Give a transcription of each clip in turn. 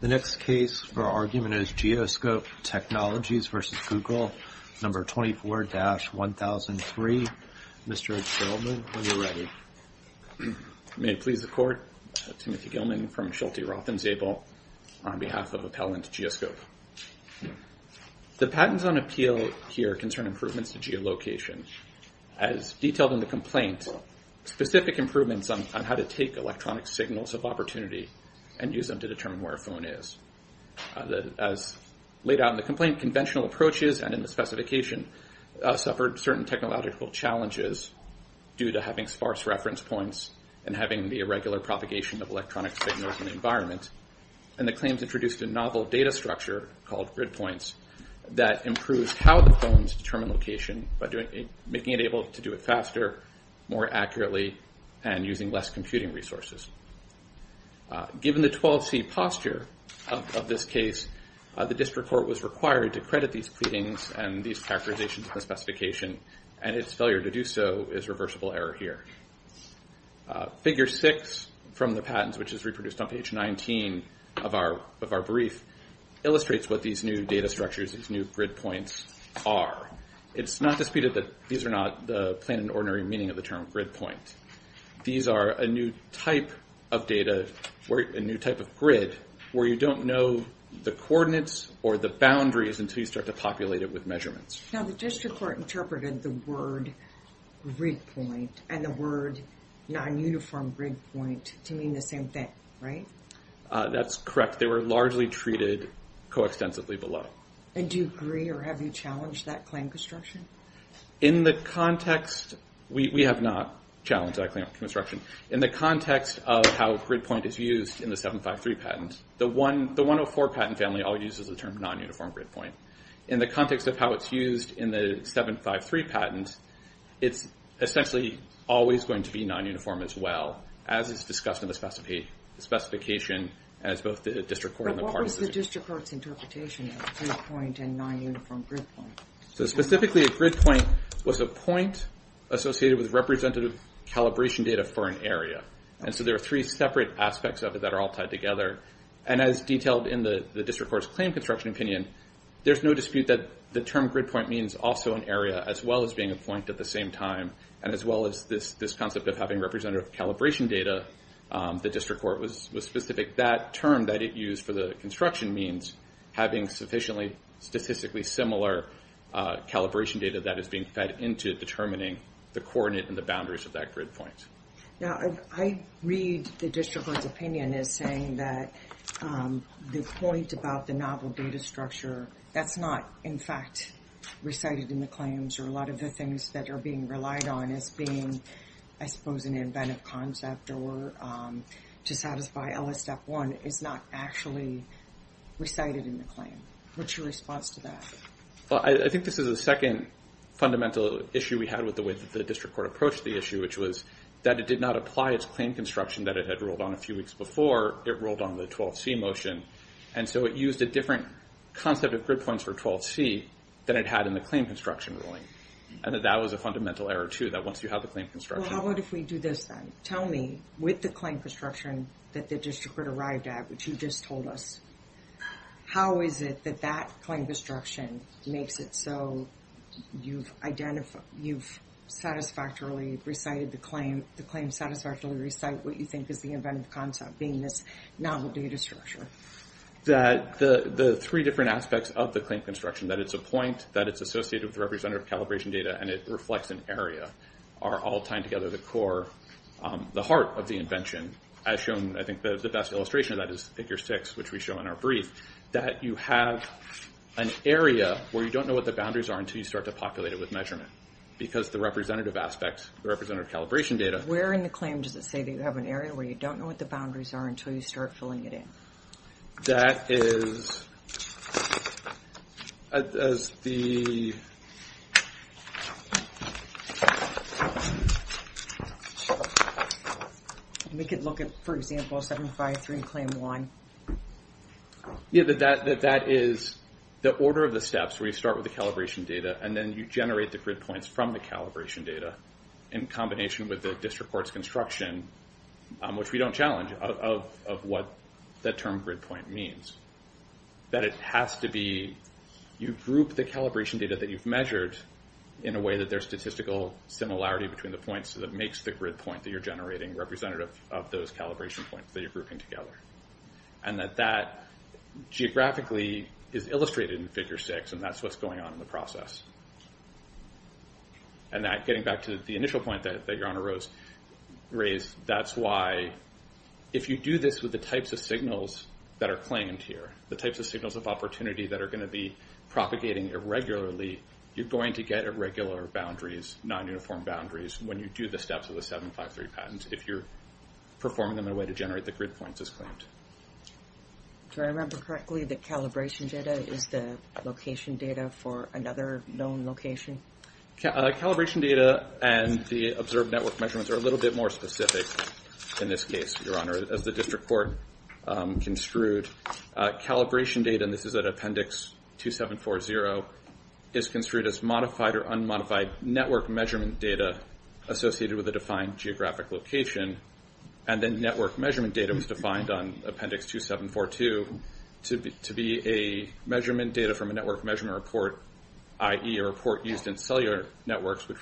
The next case for argument is Geoscope Technologies v. Google, No. 24-1003. Mr. Ed Sheldon, are you ready? May it please the Court, Timothy Gilman from Sheltie Roth and Zabel on behalf of Appellant Geoscope. The patents on appeal here concern improvements to geolocation. As detailed in the complaint, specific improvements on how to take electronic signals of opportunity and use them to determine where a phone is. As laid out in the complaint, conventional approaches and in the specification suffered certain technological challenges due to having sparse reference points and having the irregular propagation of electronic signals in the environment. And the claims introduced a novel data structure called grid points that improves how the phones determine location by making it able to do it faster, more accurately, and using less computing resources. Given the 12C posture of this case, the District Court was required to credit these pleadings and these characterizations in the specification, and its failure to do so is reversible error here. Figure 6 from the patents, which is reproduced on page 19 of our brief, illustrates what these new data structures, these new grid points, are. It's not disputed that these are not the plain and ordinary meaning of the term grid point. These are a new type of data, a new type of grid, where you don't know the coordinates or the boundaries until you start to populate it with measurements. Now the District Court interpreted the word grid point and the word non-uniform grid point to mean the same thing, right? That's correct. They were largely treated coextensively below. Do you agree or have you challenged that claim construction? We have not challenged that claim construction. In the context of how grid point is used in the 753 patent, the 104 patent family always uses the term non-uniform grid point. In the context of how it's used in the 753 patent, it's essentially always going to be non-uniform as well, as is discussed in the specification as both the District Court and the parties... What was the District Court's interpretation of grid point and non-uniform grid point? Specifically, a grid point was a point associated with representative calibration data for an area. There are three separate aspects of it that are all tied together. As detailed in the District Court's claim construction opinion, there's no dispute that the term grid point means also an area, as well as being a point at the same time, and as well as this concept of having representative calibration data. The District Court was specific. That term that it used for the construction means having sufficiently statistically similar calibration data that is being fed into determining the coordinate and the boundaries of that grid point. I read the District Court's opinion as saying that the point about the novel data structure, that's not, in fact, recited in the claims, or a lot of the things that are being relied on as being, I suppose, an inventive concept or to satisfy LS Step 1 is not actually recited in the claim. What's your response to that? I think this is the second fundamental issue we had with the way that the District Court approached the issue, which was that it did not apply its claim construction that it had ruled on a few weeks before. It ruled on the 12C motion, and so it used a different concept of grid points for 12C than it had in the claim construction ruling. That was a fundamental error, too, that once you have the claim construction... How about if we do this then? Tell me, with the claim construction that the District Court arrived at, which you just told us, how is it that that claim construction makes it so you've satisfactorily recited the claim, the claim satisfactorily recite what you think is the inventive concept, being this novel data structure? The three different aspects of the claim construction, that it's a point, that it's associated with representative calibration data, and it reflects an area, are all tied together at the core, the heart of the invention, as shown, I think the best illustration of that is Figure 6, which we show in our brief, that you have an area where you don't know what the boundaries are until you start to populate it with measurement because the representative aspects, the representative calibration data... Where in the claim does it say that you have an area where you don't know what the boundaries are until you start filling it in? That is... We could look at, for example, 753 and Claim 1. Yeah, that is the order of the steps where you start with the calibration data and then you generate the grid points from the calibration data in combination with the District Court's construction, which we don't challenge, of what that term grid point means. That it has to be... You group the calibration data that you've measured in a way that there's statistical similarity between the points so that it makes the grid point that you're generating representative of those calibration points that you're grouping together. And that that, geographically, is illustrated in Figure 6, and that's what's going on in the process. And getting back to the initial point that Your Honor raised, that's why, if you do this with the types of signals that are claimed here, the types of signals of opportunity that are going to be propagating irregularly, you're going to get irregular boundaries, non-uniform boundaries, when you do the steps with the 753 patents, if you're performing them in a way to generate the grid points as claimed. Do I remember correctly that calibration data is the location data for another known location? Calibration data and the observed network measurements are a little bit more specific in this case, Your Honor, as the District Court construed. Calibration data, and this is at Appendix 2740, is construed as modified or unmodified network measurement data associated with a defined geographic location. And then network measurement data was defined on Appendix 2742 to be a measurement data from a network measurement report, i.e. a report used in cellular networks which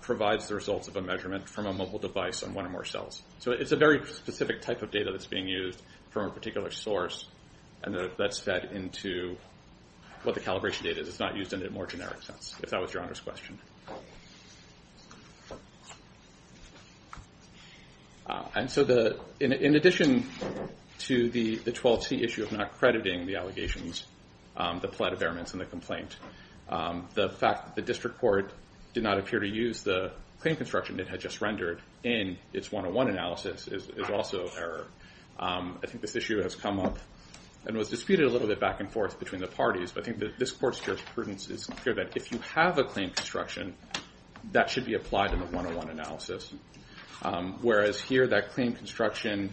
provides the results of a measurement from a mobile device on one or more cells. So it's a very specific type of data that's being used from a particular source and that's fed into what the calibration data is. It's not used in a more generic sense, if that was Your Honor's question. And so in addition to the 12C issue of not crediting the allegations, the plethora of elements in the complaint, the fact that the District Court did not appear to use the claim construction it had just rendered in its 101 analysis is also error. I think this issue has come up and was disputed a little bit back and forth between the parties, but I think that this Court's jurisprudence is clear that if you have a claim construction, that should be applied in the 101 analysis. Whereas here that claim construction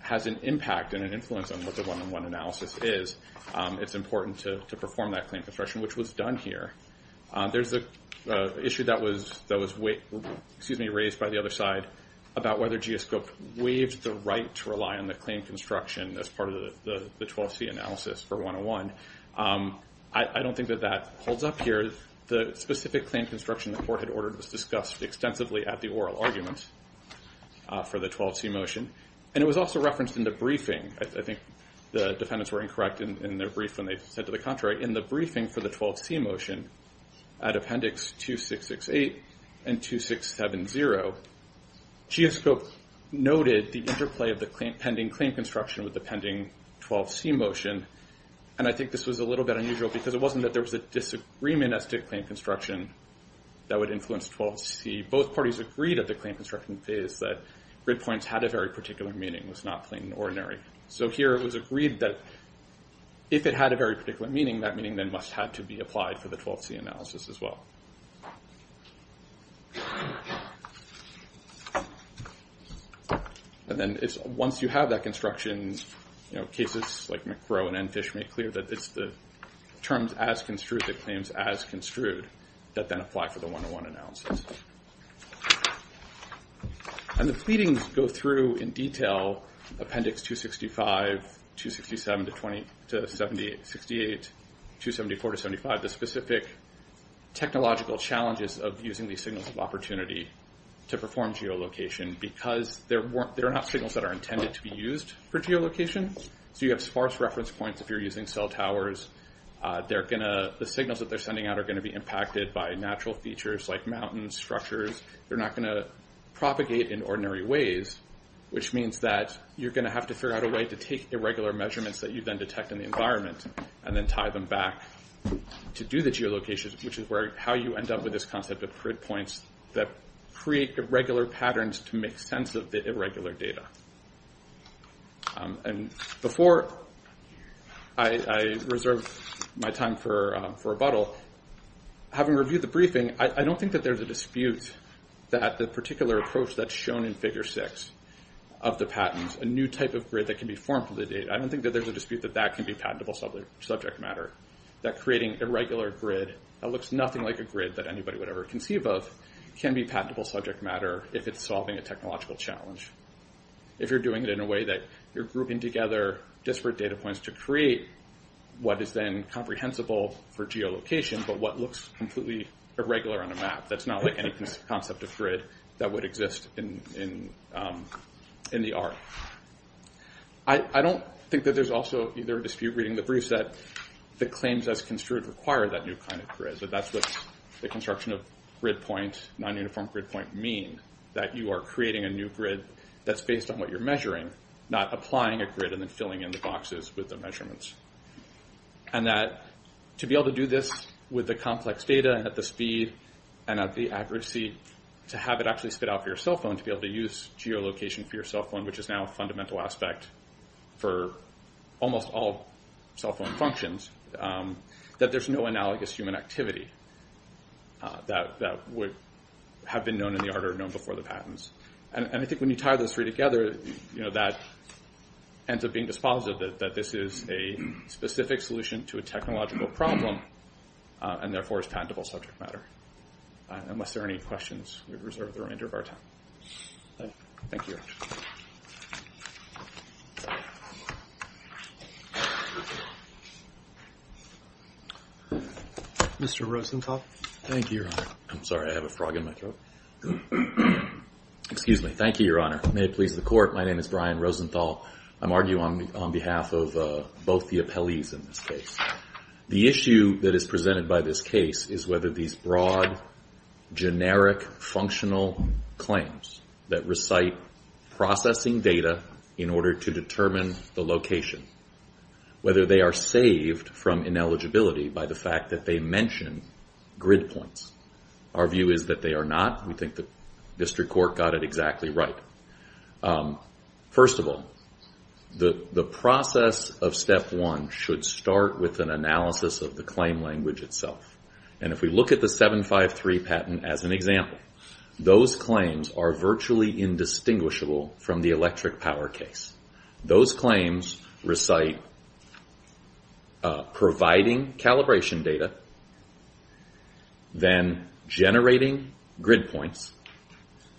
has an impact and an influence on what the 101 analysis is, it's important to perform that claim construction, which was done here. There's an issue that was raised by the other side about whether GS Cook waived the right to rely on the claim construction as part of the 12C analysis for 101. I don't think that that holds up here. The specific claim construction the Court had ordered was discussed extensively at the oral argument for the 12C motion. And it was also referenced in the briefing. I think the defendants were incorrect in their brief when they said to the contrary, in the briefing for the 12C motion at Appendix 2668 and 2670, GS Cook noted the interplay of the pending claim construction with the pending 12C motion, and I think this was a little bit unusual because it wasn't that there was a disagreement as to claim construction that would influence 12C. Both parties agreed at the claim construction phase that grid points had a very particular meaning, was not plain and ordinary. So here it was agreed that if it had a very particular meaning, that meaning then must have to be applied for the 12C analysis as well. And then once you have that construction, cases like McGrow and Enfish make clear that it's the terms as construed that claims as construed that then apply for the 101 analysis. And the pleadings go through in detail Appendix 265, 267 to 78, 274 to 75, the specific technological challenges of using these signals of opportunity to perform geolocation because they're not signals that are intended to be used for geolocation. So you have sparse reference points if you're using cell towers. The signals that they're sending out are going to be impacted by natural features like mountains, structures. They're not going to propagate in ordinary ways, which means that you're going to have to figure out a way to take irregular measurements that you then detect in the environment and then tie them back to do the geolocation, which is how you end up with this concept of grid points that create irregular patterns to make sense of the irregular data. And before I reserve my time for rebuttal, having reviewed the briefing, I don't think that there's a dispute that the particular approach that's shown in Figure 6 of the patents, a new type of grid that can be formed from the data, I don't think that there's a dispute that that can be patentable subject matter. That creating a regular grid that looks nothing like a grid that anybody would ever conceive of can be patentable subject matter if it's solving a technological challenge. If you're doing it in a way that you're grouping together disparate data points to create what is then comprehensible for geolocation but what looks completely irregular on a map that's not like any concept of grid that would exist in the art. I don't think that there's also either a dispute reading the briefs that the claims as construed require that new kind of grid, that that's what the construction of grid points, non-uniform grid point, mean. That you are creating a new grid that's based on what you're measuring, not applying a grid and then filling in the boxes with the measurements. And that to be able to do this with the complex data and at the speed and at the accuracy, to have it actually spit out for your cell phone, to be able to use geolocation for your cell phone which is now a fundamental aspect for almost all cell phone functions, that there's no analogous human activity that would have been known in the art or known before the patents. And I think when you tie those three together, that ends up being dispositive that this is a specific solution to a technological problem and therefore is patentable subject matter. Unless there are any questions, we reserve the remainder of our time. Thank you. Mr. Rosenthal. Thank you, Your Honor. I'm sorry, I have a frog in my throat. Excuse me. Thank you, Your Honor. May it please the Court. My name is Brian Rosenthal. I'm arguing on behalf of both the appellees in this case. The issue that is presented by this case is whether these broad, generic, functional claims that recite processing data in order to determine the location, whether they are saved from ineligibility by the fact that they mention grid points. Our view is that they are not. We think the District Court got it exactly right. First of all, the process of Step 1 should start with an analysis of the claim language itself. And if we look at the 753 patent as an example, those claims are virtually indistinguishable from the electric power case. Those claims recite providing calibration data, then generating grid points,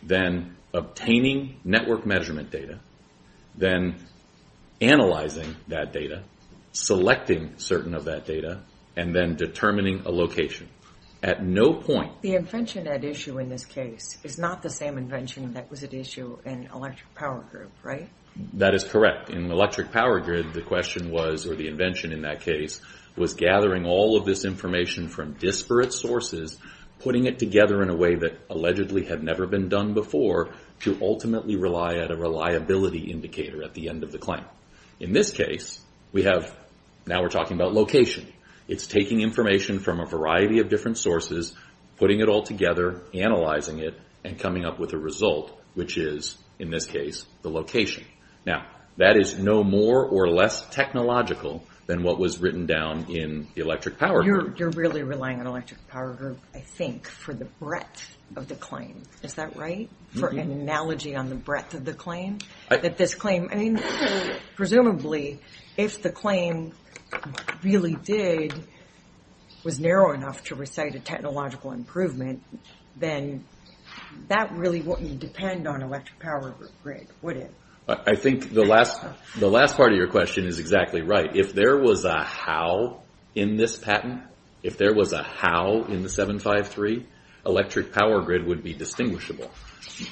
then obtaining network measurement data, then analyzing that data, selecting certain of that data, and then determining a location. At no point... The invention at issue in this case is not the same invention that was at issue in electric power grid, right? That is correct. In electric power grid, the question was, or the invention in that case, was gathering all of this information from disparate sources, putting it together, and then using a technique that probably had never been done before to ultimately rely at a reliability indicator at the end of the claim. In this case, we have... Now we're talking about location. It's taking information from a variety of different sources, putting it all together, analyzing it, and coming up with a result, which is, in this case, the location. Now, that is no more or less technological than what was written down in the electric power grid. You're really relying on electric power grid, I think, for the breadth of the claim. Is that right? For an analogy on the breadth of the claim, that this claim... I mean, presumably, if the claim really did... was narrow enough to recite a technological improvement, then that really wouldn't depend on electric power grid, would it? I think the last part of your question is exactly right. If there was a how in this patent, if there was a how in the 753, electric power grid would be distinguishable.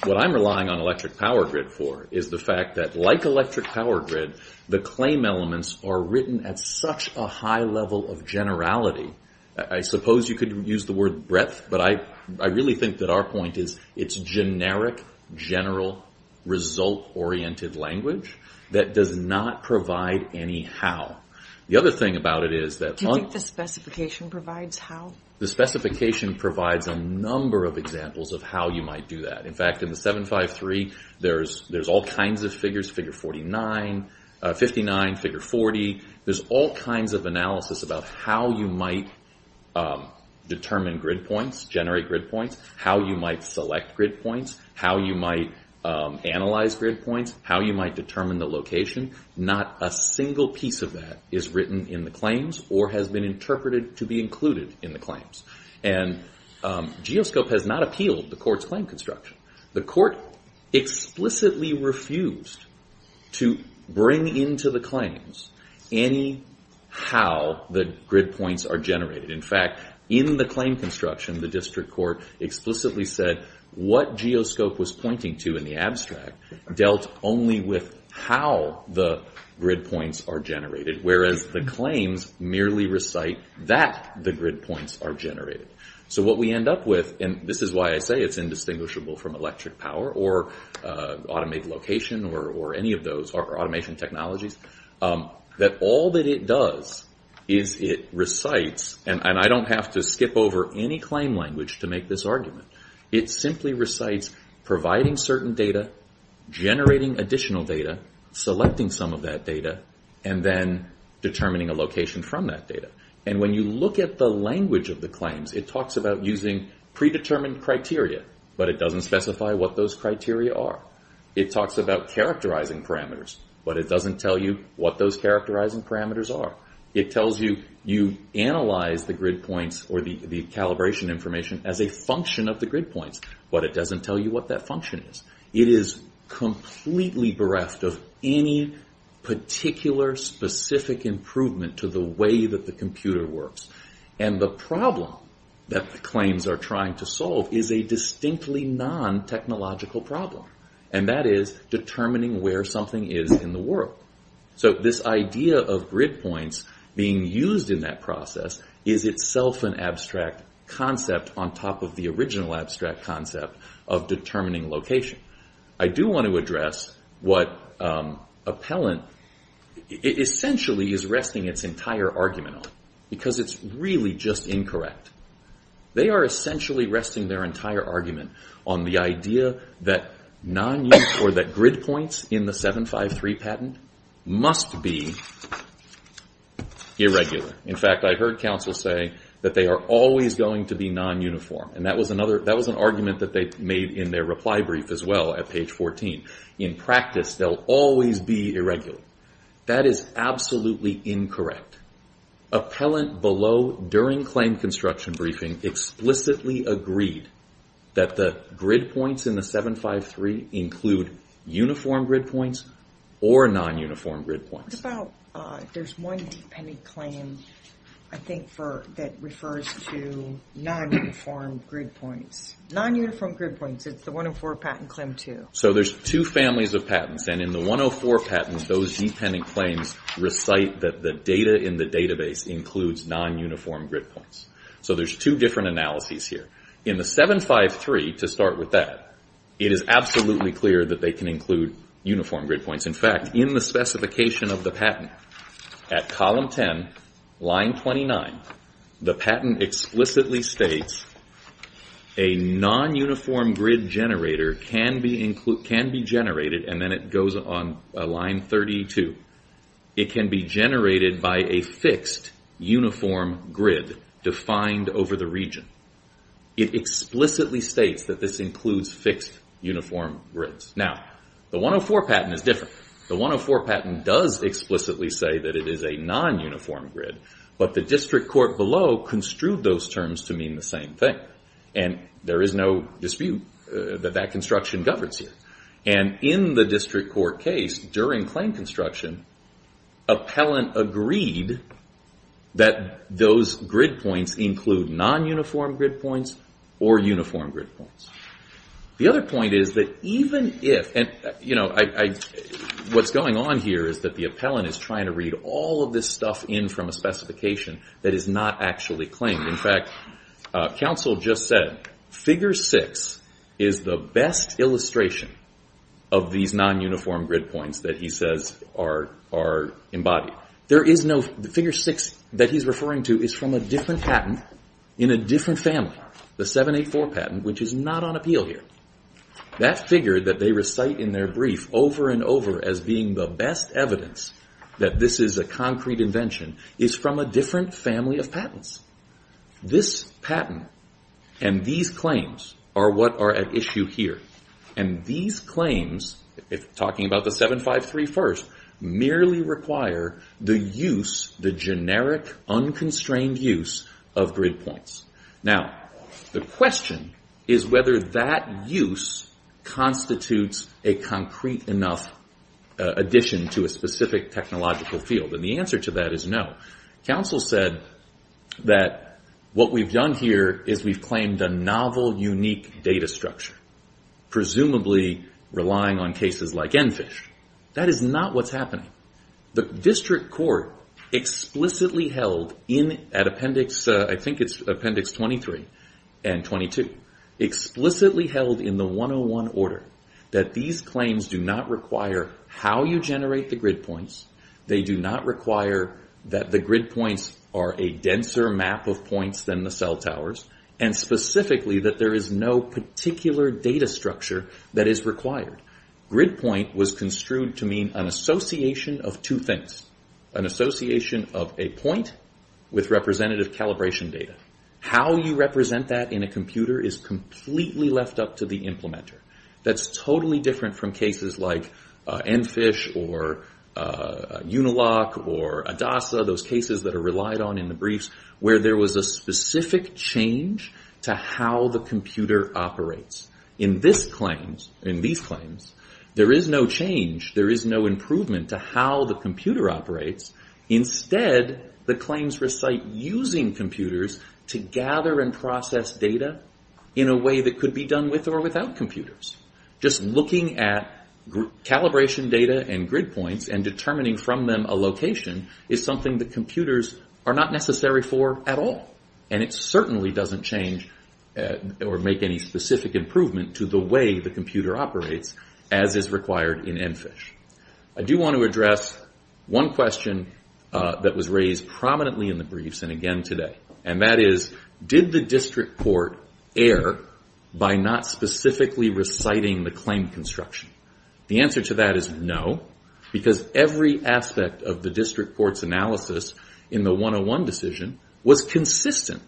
What I'm relying on electric power grid for is the fact that, like electric power grid, the claim elements are written at such a high level of generality. I suppose you could use the word breadth, but I really think that our point is it's generic, general, result-oriented language that does not provide any how. The other thing about it is that... Do you think the specification provides how? The specification provides a number of examples of how you might do that. In fact, in the 753, there's all kinds of figures, figure 49, 59, figure 40. There's all kinds of analysis about how you might determine grid points, generate grid points, how you might select grid points, how you might analyze grid points, how you might determine the location. Not a single piece of that is written in the claims or has been interpreted to be included in the claims. Geoscope has not appealed the court's claim construction. The court explicitly refused to bring into the claims any how the grid points are generated. In fact, in the claim construction, the district court explicitly said what the grid points are generated, whereas the claims merely recite that the grid points are generated. What we end up with, and this is why I say it's indistinguishable from electric power or automated location or any of those, or automation technologies, that all that it does is it recites, and I don't have to skip over any claim language to make this argument, it simply recites providing certain data, generating additional data, selecting some of that data, and then determining a location from that data. When you look at the language of the claims, it talks about using predetermined criteria, but it doesn't specify what those criteria are. It talks about characterizing parameters, but it doesn't tell you what those characterizing parameters are. It tells you you analyze the grid points or the calibration information as a function of the grid points, but it doesn't tell you what that function is. It is completely bereft of any particular specific improvement to the way that the computer works, and the problem that the claims are trying to solve is a distinctly non-technological problem, and that is determining where something is in the world. So this idea of grid points being used in that process is itself an abstract concept of determining location. I do want to address what Appellant essentially is resting its entire argument on, because it's really just incorrect. They are essentially resting their entire argument on the idea that grid points in the 753 patent must be irregular. In fact, I heard counsel say that they are always going to be non-uniform, and that was an argument that they made in their reply brief as well at page 14. In practice, they'll always be irregular. That is absolutely incorrect. Appellant below, during claim construction briefing, explicitly agreed that the grid points in the 753 include uniform grid points or non-uniform grid points. There's one dependent claim, I think, that refers to non-uniform grid points. Non-uniform grid points, it's the 104 Patent Claim 2. So there's two families of patents, and in the 104 patents, those dependent claims recite that the data in the database includes non-uniform grid points. So there's two different analyses here. In the 753, to start with that, it is absolutely clear that they can include uniform grid points. In fact, in the specification of the patent, at column 10, line 29, the patent explicitly states a non-uniform grid generator can be generated, and then it goes on line 32. It can be generated by a fixed uniform grid defined over the region. It explicitly states that this includes fixed uniform grids. Now, the 104 patent is different. The 104 patent does explicitly say that it is a non-uniform grid, but the district court below construed those terms to mean the same thing, and there is no dispute that that construction governs here. In the district court case, during claim construction, appellant agreed that those grid points include non-uniform grid points or uniform grid points. The other point is that even if, you know, what's going on here is that the appellant is trying to read all of this stuff in from a specification that is not actually claimed. In fact, counsel just said, figure six is the best illustration of these non-uniform grid points that he says are embodied. The figure six that he's referring to is from a different patent in a different family, the 784 patent, which is not on appeal here. That figure that they recite in their brief over and over as being the best evidence that this is a concrete invention is from a different family of patents. This patent and these claims are what are at issue here, and these claims, talking about the 753 first, merely require the use, the generic, unconstrained use of grid points. Now, the question is whether that use constitutes a concrete enough addition to a specific technological field, and the answer to that is no. Counsel said that what we've done here is we've claimed a novel, unique data structure, presumably relying on cases like ENFISH. That is not what's happening. The district court explicitly held at appendix, I think it's appendix 23 and 22, explicitly held in the 101 order that these claims do not require how you generate the grid points. They do not require that the grid points are a denser map of points than the cell towers, and specifically that there is no particular data structure that is required. Grid point was construed to mean an association of two things, an association of a point with representative calibration data. How you represent that in a computer is completely left up to the implementer. That's totally different from cases like ENFISH or UNILOCK or ADASA, those cases that are relied on in the briefs, where there was a specific change to how the computer operates. In these claims, there is no change, there is no improvement to how the computer operates. Instead, the claims recite using computers to gather and process data in a way that could be done with or without computers. Just looking at calibration data and grid points and determining from them a location is something that computers are not necessary for at all, and it certainly doesn't change or make any specific improvement to the way the computer operates, as is required in ENFISH. I do want to address one question that was raised prominently in the briefs and again today, and that is, did the district court err by not specifically reciting the claim construction? The answer to that is no, because every aspect of the district court's analysis in the 101 decision was consistent.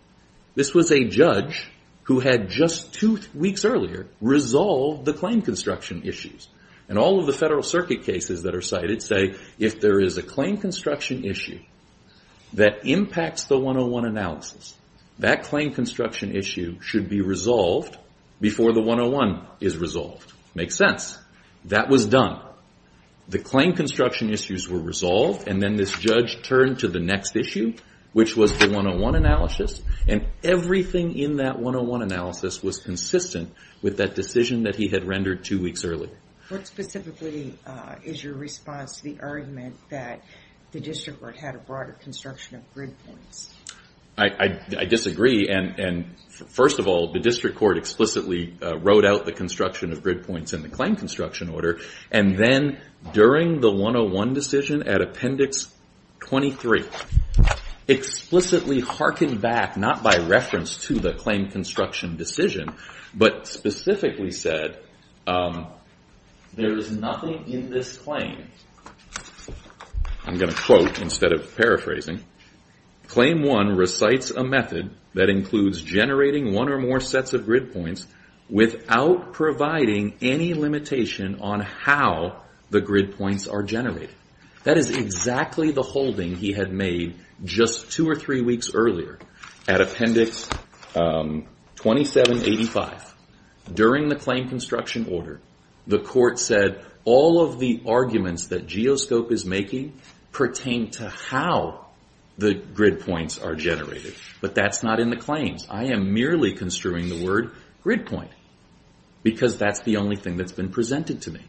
This was a judge who had, just two weeks earlier, resolved the claim construction issues. All of the Federal Circuit cases that are cited say, if there is a claim construction issue that impacts the 101 analysis, that claim construction issue should be resolved before the 101 is resolved. Makes sense. That was done. The claim construction issues were resolved, and then this judge turned to the next issue, which was the 101 analysis, and everything in that 101 analysis was consistent with that decision that he had rendered two weeks earlier. What specifically is your response to the argument that the district court had a broader construction of grid points? I disagree, and first of all, the district court explicitly wrote out the construction of grid points in the claim construction order, and then during the 101 decision at Appendix 23, explicitly harkened back, not by reference to the claim construction decision, but specifically said, there is nothing in this claim. I'm going to quote instead of paraphrasing. Claim one recites a method that includes generating one or more sets of grid points without providing any limitation on how the grid points are generated. That is exactly the holding he had made just two or three weeks earlier. At Appendix 2785, during the claim construction order, the court said all of the arguments that Geoscope is making pertain to how the grid points are generated, but that's not in the claims. I am merely construing the word grid point, because that's the only thing that's been presented to me.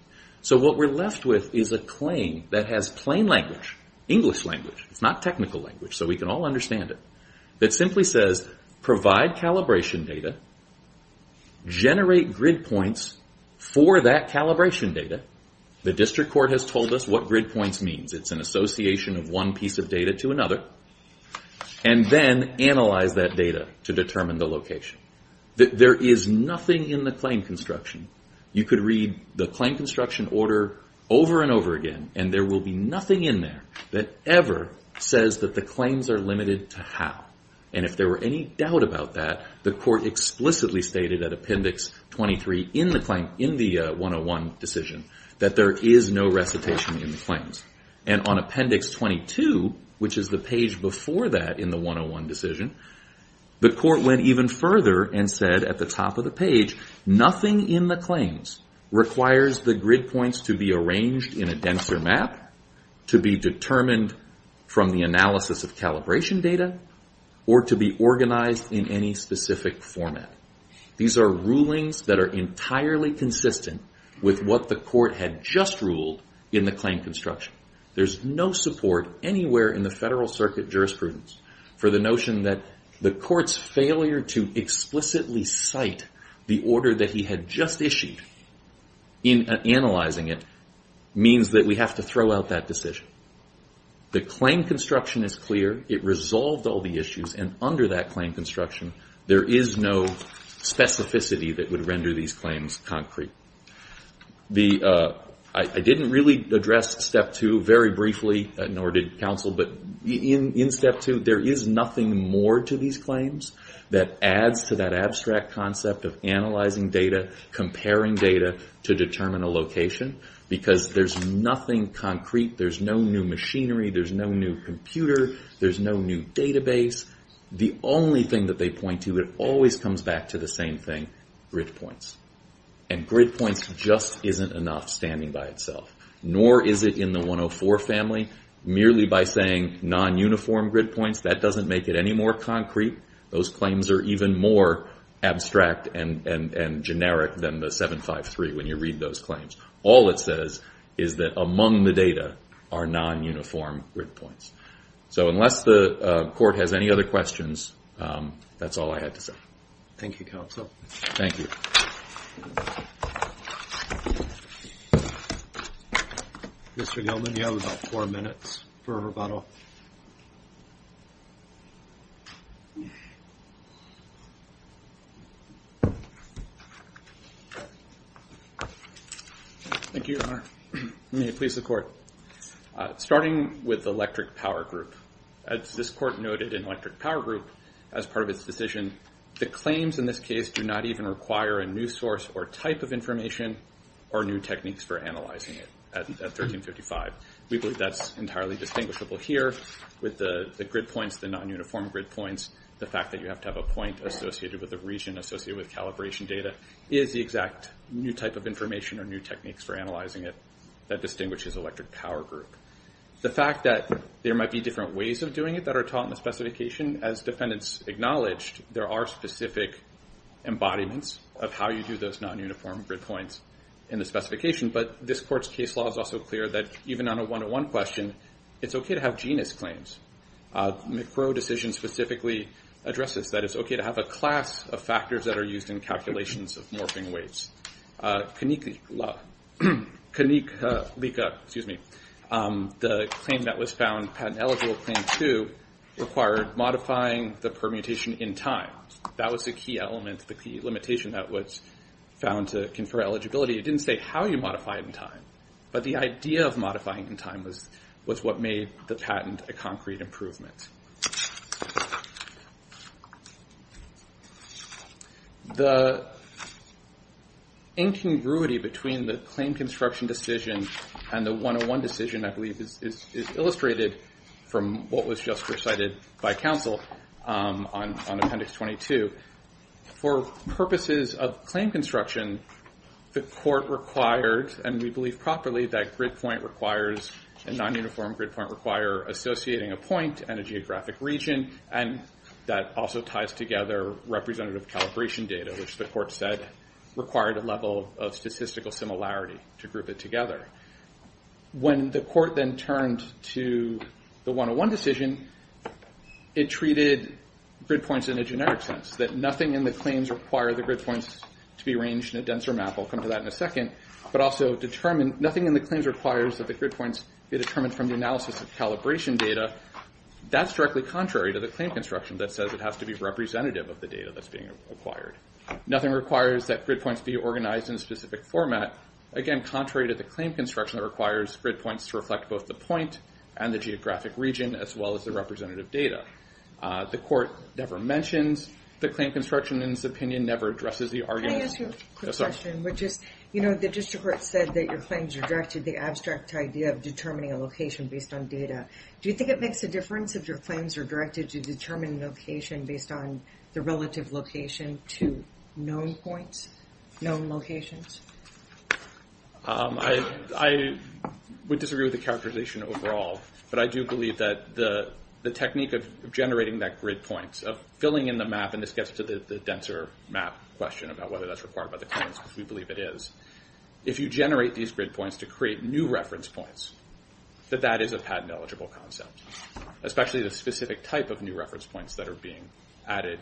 So what we're left with is a claim that has plain language, English language, it's not technical language, so we can all understand it, that simply says provide calibration data, generate grid points for that calibration data. The district court has told us what grid points means. It's an association of one piece of data to another, and then analyze that data to determine the location. There is nothing in the claim construction. You could read the claim construction order over and over again, and there will be nothing in there that ever says that the claims are limited to how, and if there were any doubt about that, the court explicitly stated at Appendix 23 in the claim, in the 101 decision, that there is no recitation in the claims. And on Appendix 22, which is the page before that in the 101 decision, the court went even further and said at the top of the page, nothing in the claims requires the grid points to be arranged in a denser map, to be determined from the analysis of calibration data, or to be organized in any specific format. These are rulings that are entirely consistent with what the court had just ruled in the claim construction. There's no support anywhere in the Federal Circuit jurisprudence for the notion that the court's failure to explicitly cite the order that he had just issued in analyzing it means that we have to throw out that decision. The claim construction is clear. It resolved all the issues, and under that claim construction, there is no specificity that would render these claims concrete. I didn't really address Step 2 very briefly, nor did counsel, but in Step 2, there is nothing more to these claims that adds to that abstract concept of analyzing data, comparing data to determine a location, because there's nothing concrete. There's no new machinery. There's no new computer. There's no new database. The only thing that they point to, it always comes back to the same thing, grid points. And grid points just isn't enough standing by itself, nor is it in the 104 family. Merely by saying non-uniform grid points, that doesn't make it any more concrete. Those claims are even more abstract and generic than the 753 when you read those claims. All it says is that among the data are non-uniform grid points. So unless the court has any other questions, that's all I had to say. Thank you, counsel. Thank you. Mr. Gilman, you have about four minutes for rebuttal. Thank you, Your Honor. May it please the court. Starting with electric power group. As this court noted in electric power group, as part of its decision, the claims in this case do not even require a new source or type of information or new techniques for analyzing it at 1355. We believe that's entirely distinguishable here with the grid points, the non-uniform grid points, the fact that you have to have a point associated with a region associated with calibration data is the exact new type of information or new techniques for analyzing it that distinguishes electric power group. The fact that there might be different ways of doing it that are taught in the specification, as defendants acknowledged, there are specific embodiments of how you do those non-uniform grid points in the specification. But this court's case law is also clear that even on a one-to-one question, it's okay to have genus claims. McCrow decision specifically addresses that it's okay to have a class of factors that are used in calculations of morphing weights. Conica, excuse me, the claim that was found, patent eligible claim two, required modifying the permutation in time. That was the key element, the key limitation that was found to confer eligibility. It didn't say how you modify it in time, but the idea of modifying in time was what made the patent a concrete improvement. The incongruity between the claim construction decision and the one-to-one decision, I believe, is illustrated from what was just recited by counsel on appendix 22. For purposes of claim construction, the court required, and we believe properly, that grid point requires, a non-uniform grid point require associating a point and a geographic region, and that also ties together representative calibration data, which the court said required a level of statistical similarity to group it together. When the court then turned to the one-to-one decision, it treated grid points in a generic sense, that nothing in the claims require the grid points to be arranged in a denser map. I'll come to that in a second. But also nothing in the claims requires that the grid points be determined from the analysis of calibration data. That's directly contrary to the claim construction that says it has to be representative of the data that's being acquired. Nothing requires that grid points be organized in a specific format. Again, contrary to the claim construction that requires grid points to reflect both the point and the geographic region, as well as the representative data. The court never mentions the claim construction, and its opinion never addresses the argument. Can I ask you a quick question? The district court said that your claims rejected the abstract idea of determining a location based on data. Do you think it makes a difference if your claims are directed to determine location based on the relative location to known points, known locations? I would disagree with the characterization overall, but I do believe that the technique of generating that grid point, of filling in the map, and this gets to the denser map question about whether that's required by the claims, because we believe it is. If you generate these grid points to create new reference points, that that is a patent-eligible concept, especially the specific type of new reference points that are being added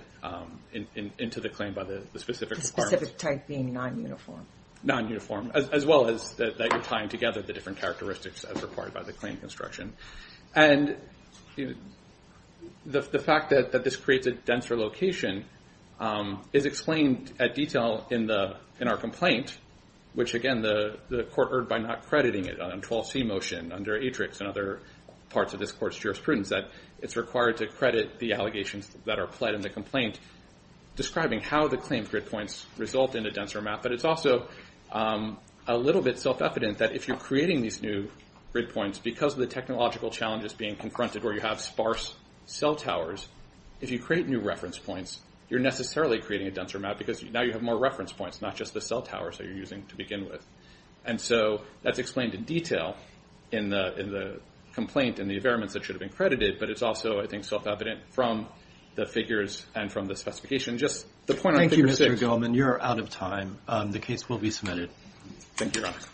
into the claim by the specific requirements. The specific type being non-uniform. Non-uniform, as well as that you're tying together the different characteristics as required by the claim construction. And the fact that this creates a denser location is explained at detail in our complaint, which again the court erred by not crediting it on 12C motion under Atrix and other parts of this court's jurisprudence, that it's required to credit the allegations that are pled in the complaint describing how the claimed grid points result in a denser map. But it's also a little bit self-evident that if you're creating these new grid points because of the technological challenges being confronted where you have sparse cell towers, if you create new reference points, you're necessarily creating a denser map because now you have more reference points, not just the cell towers that you're using to begin with. And so that's explained in detail in the complaint and the evidence that should have been credited, but it's also, I think, self-evident from the figures and from the specification. Just the point on Figure 6. Thank you, Mr. Goleman. You're out of time. The case will be submitted. Thank you, Ron.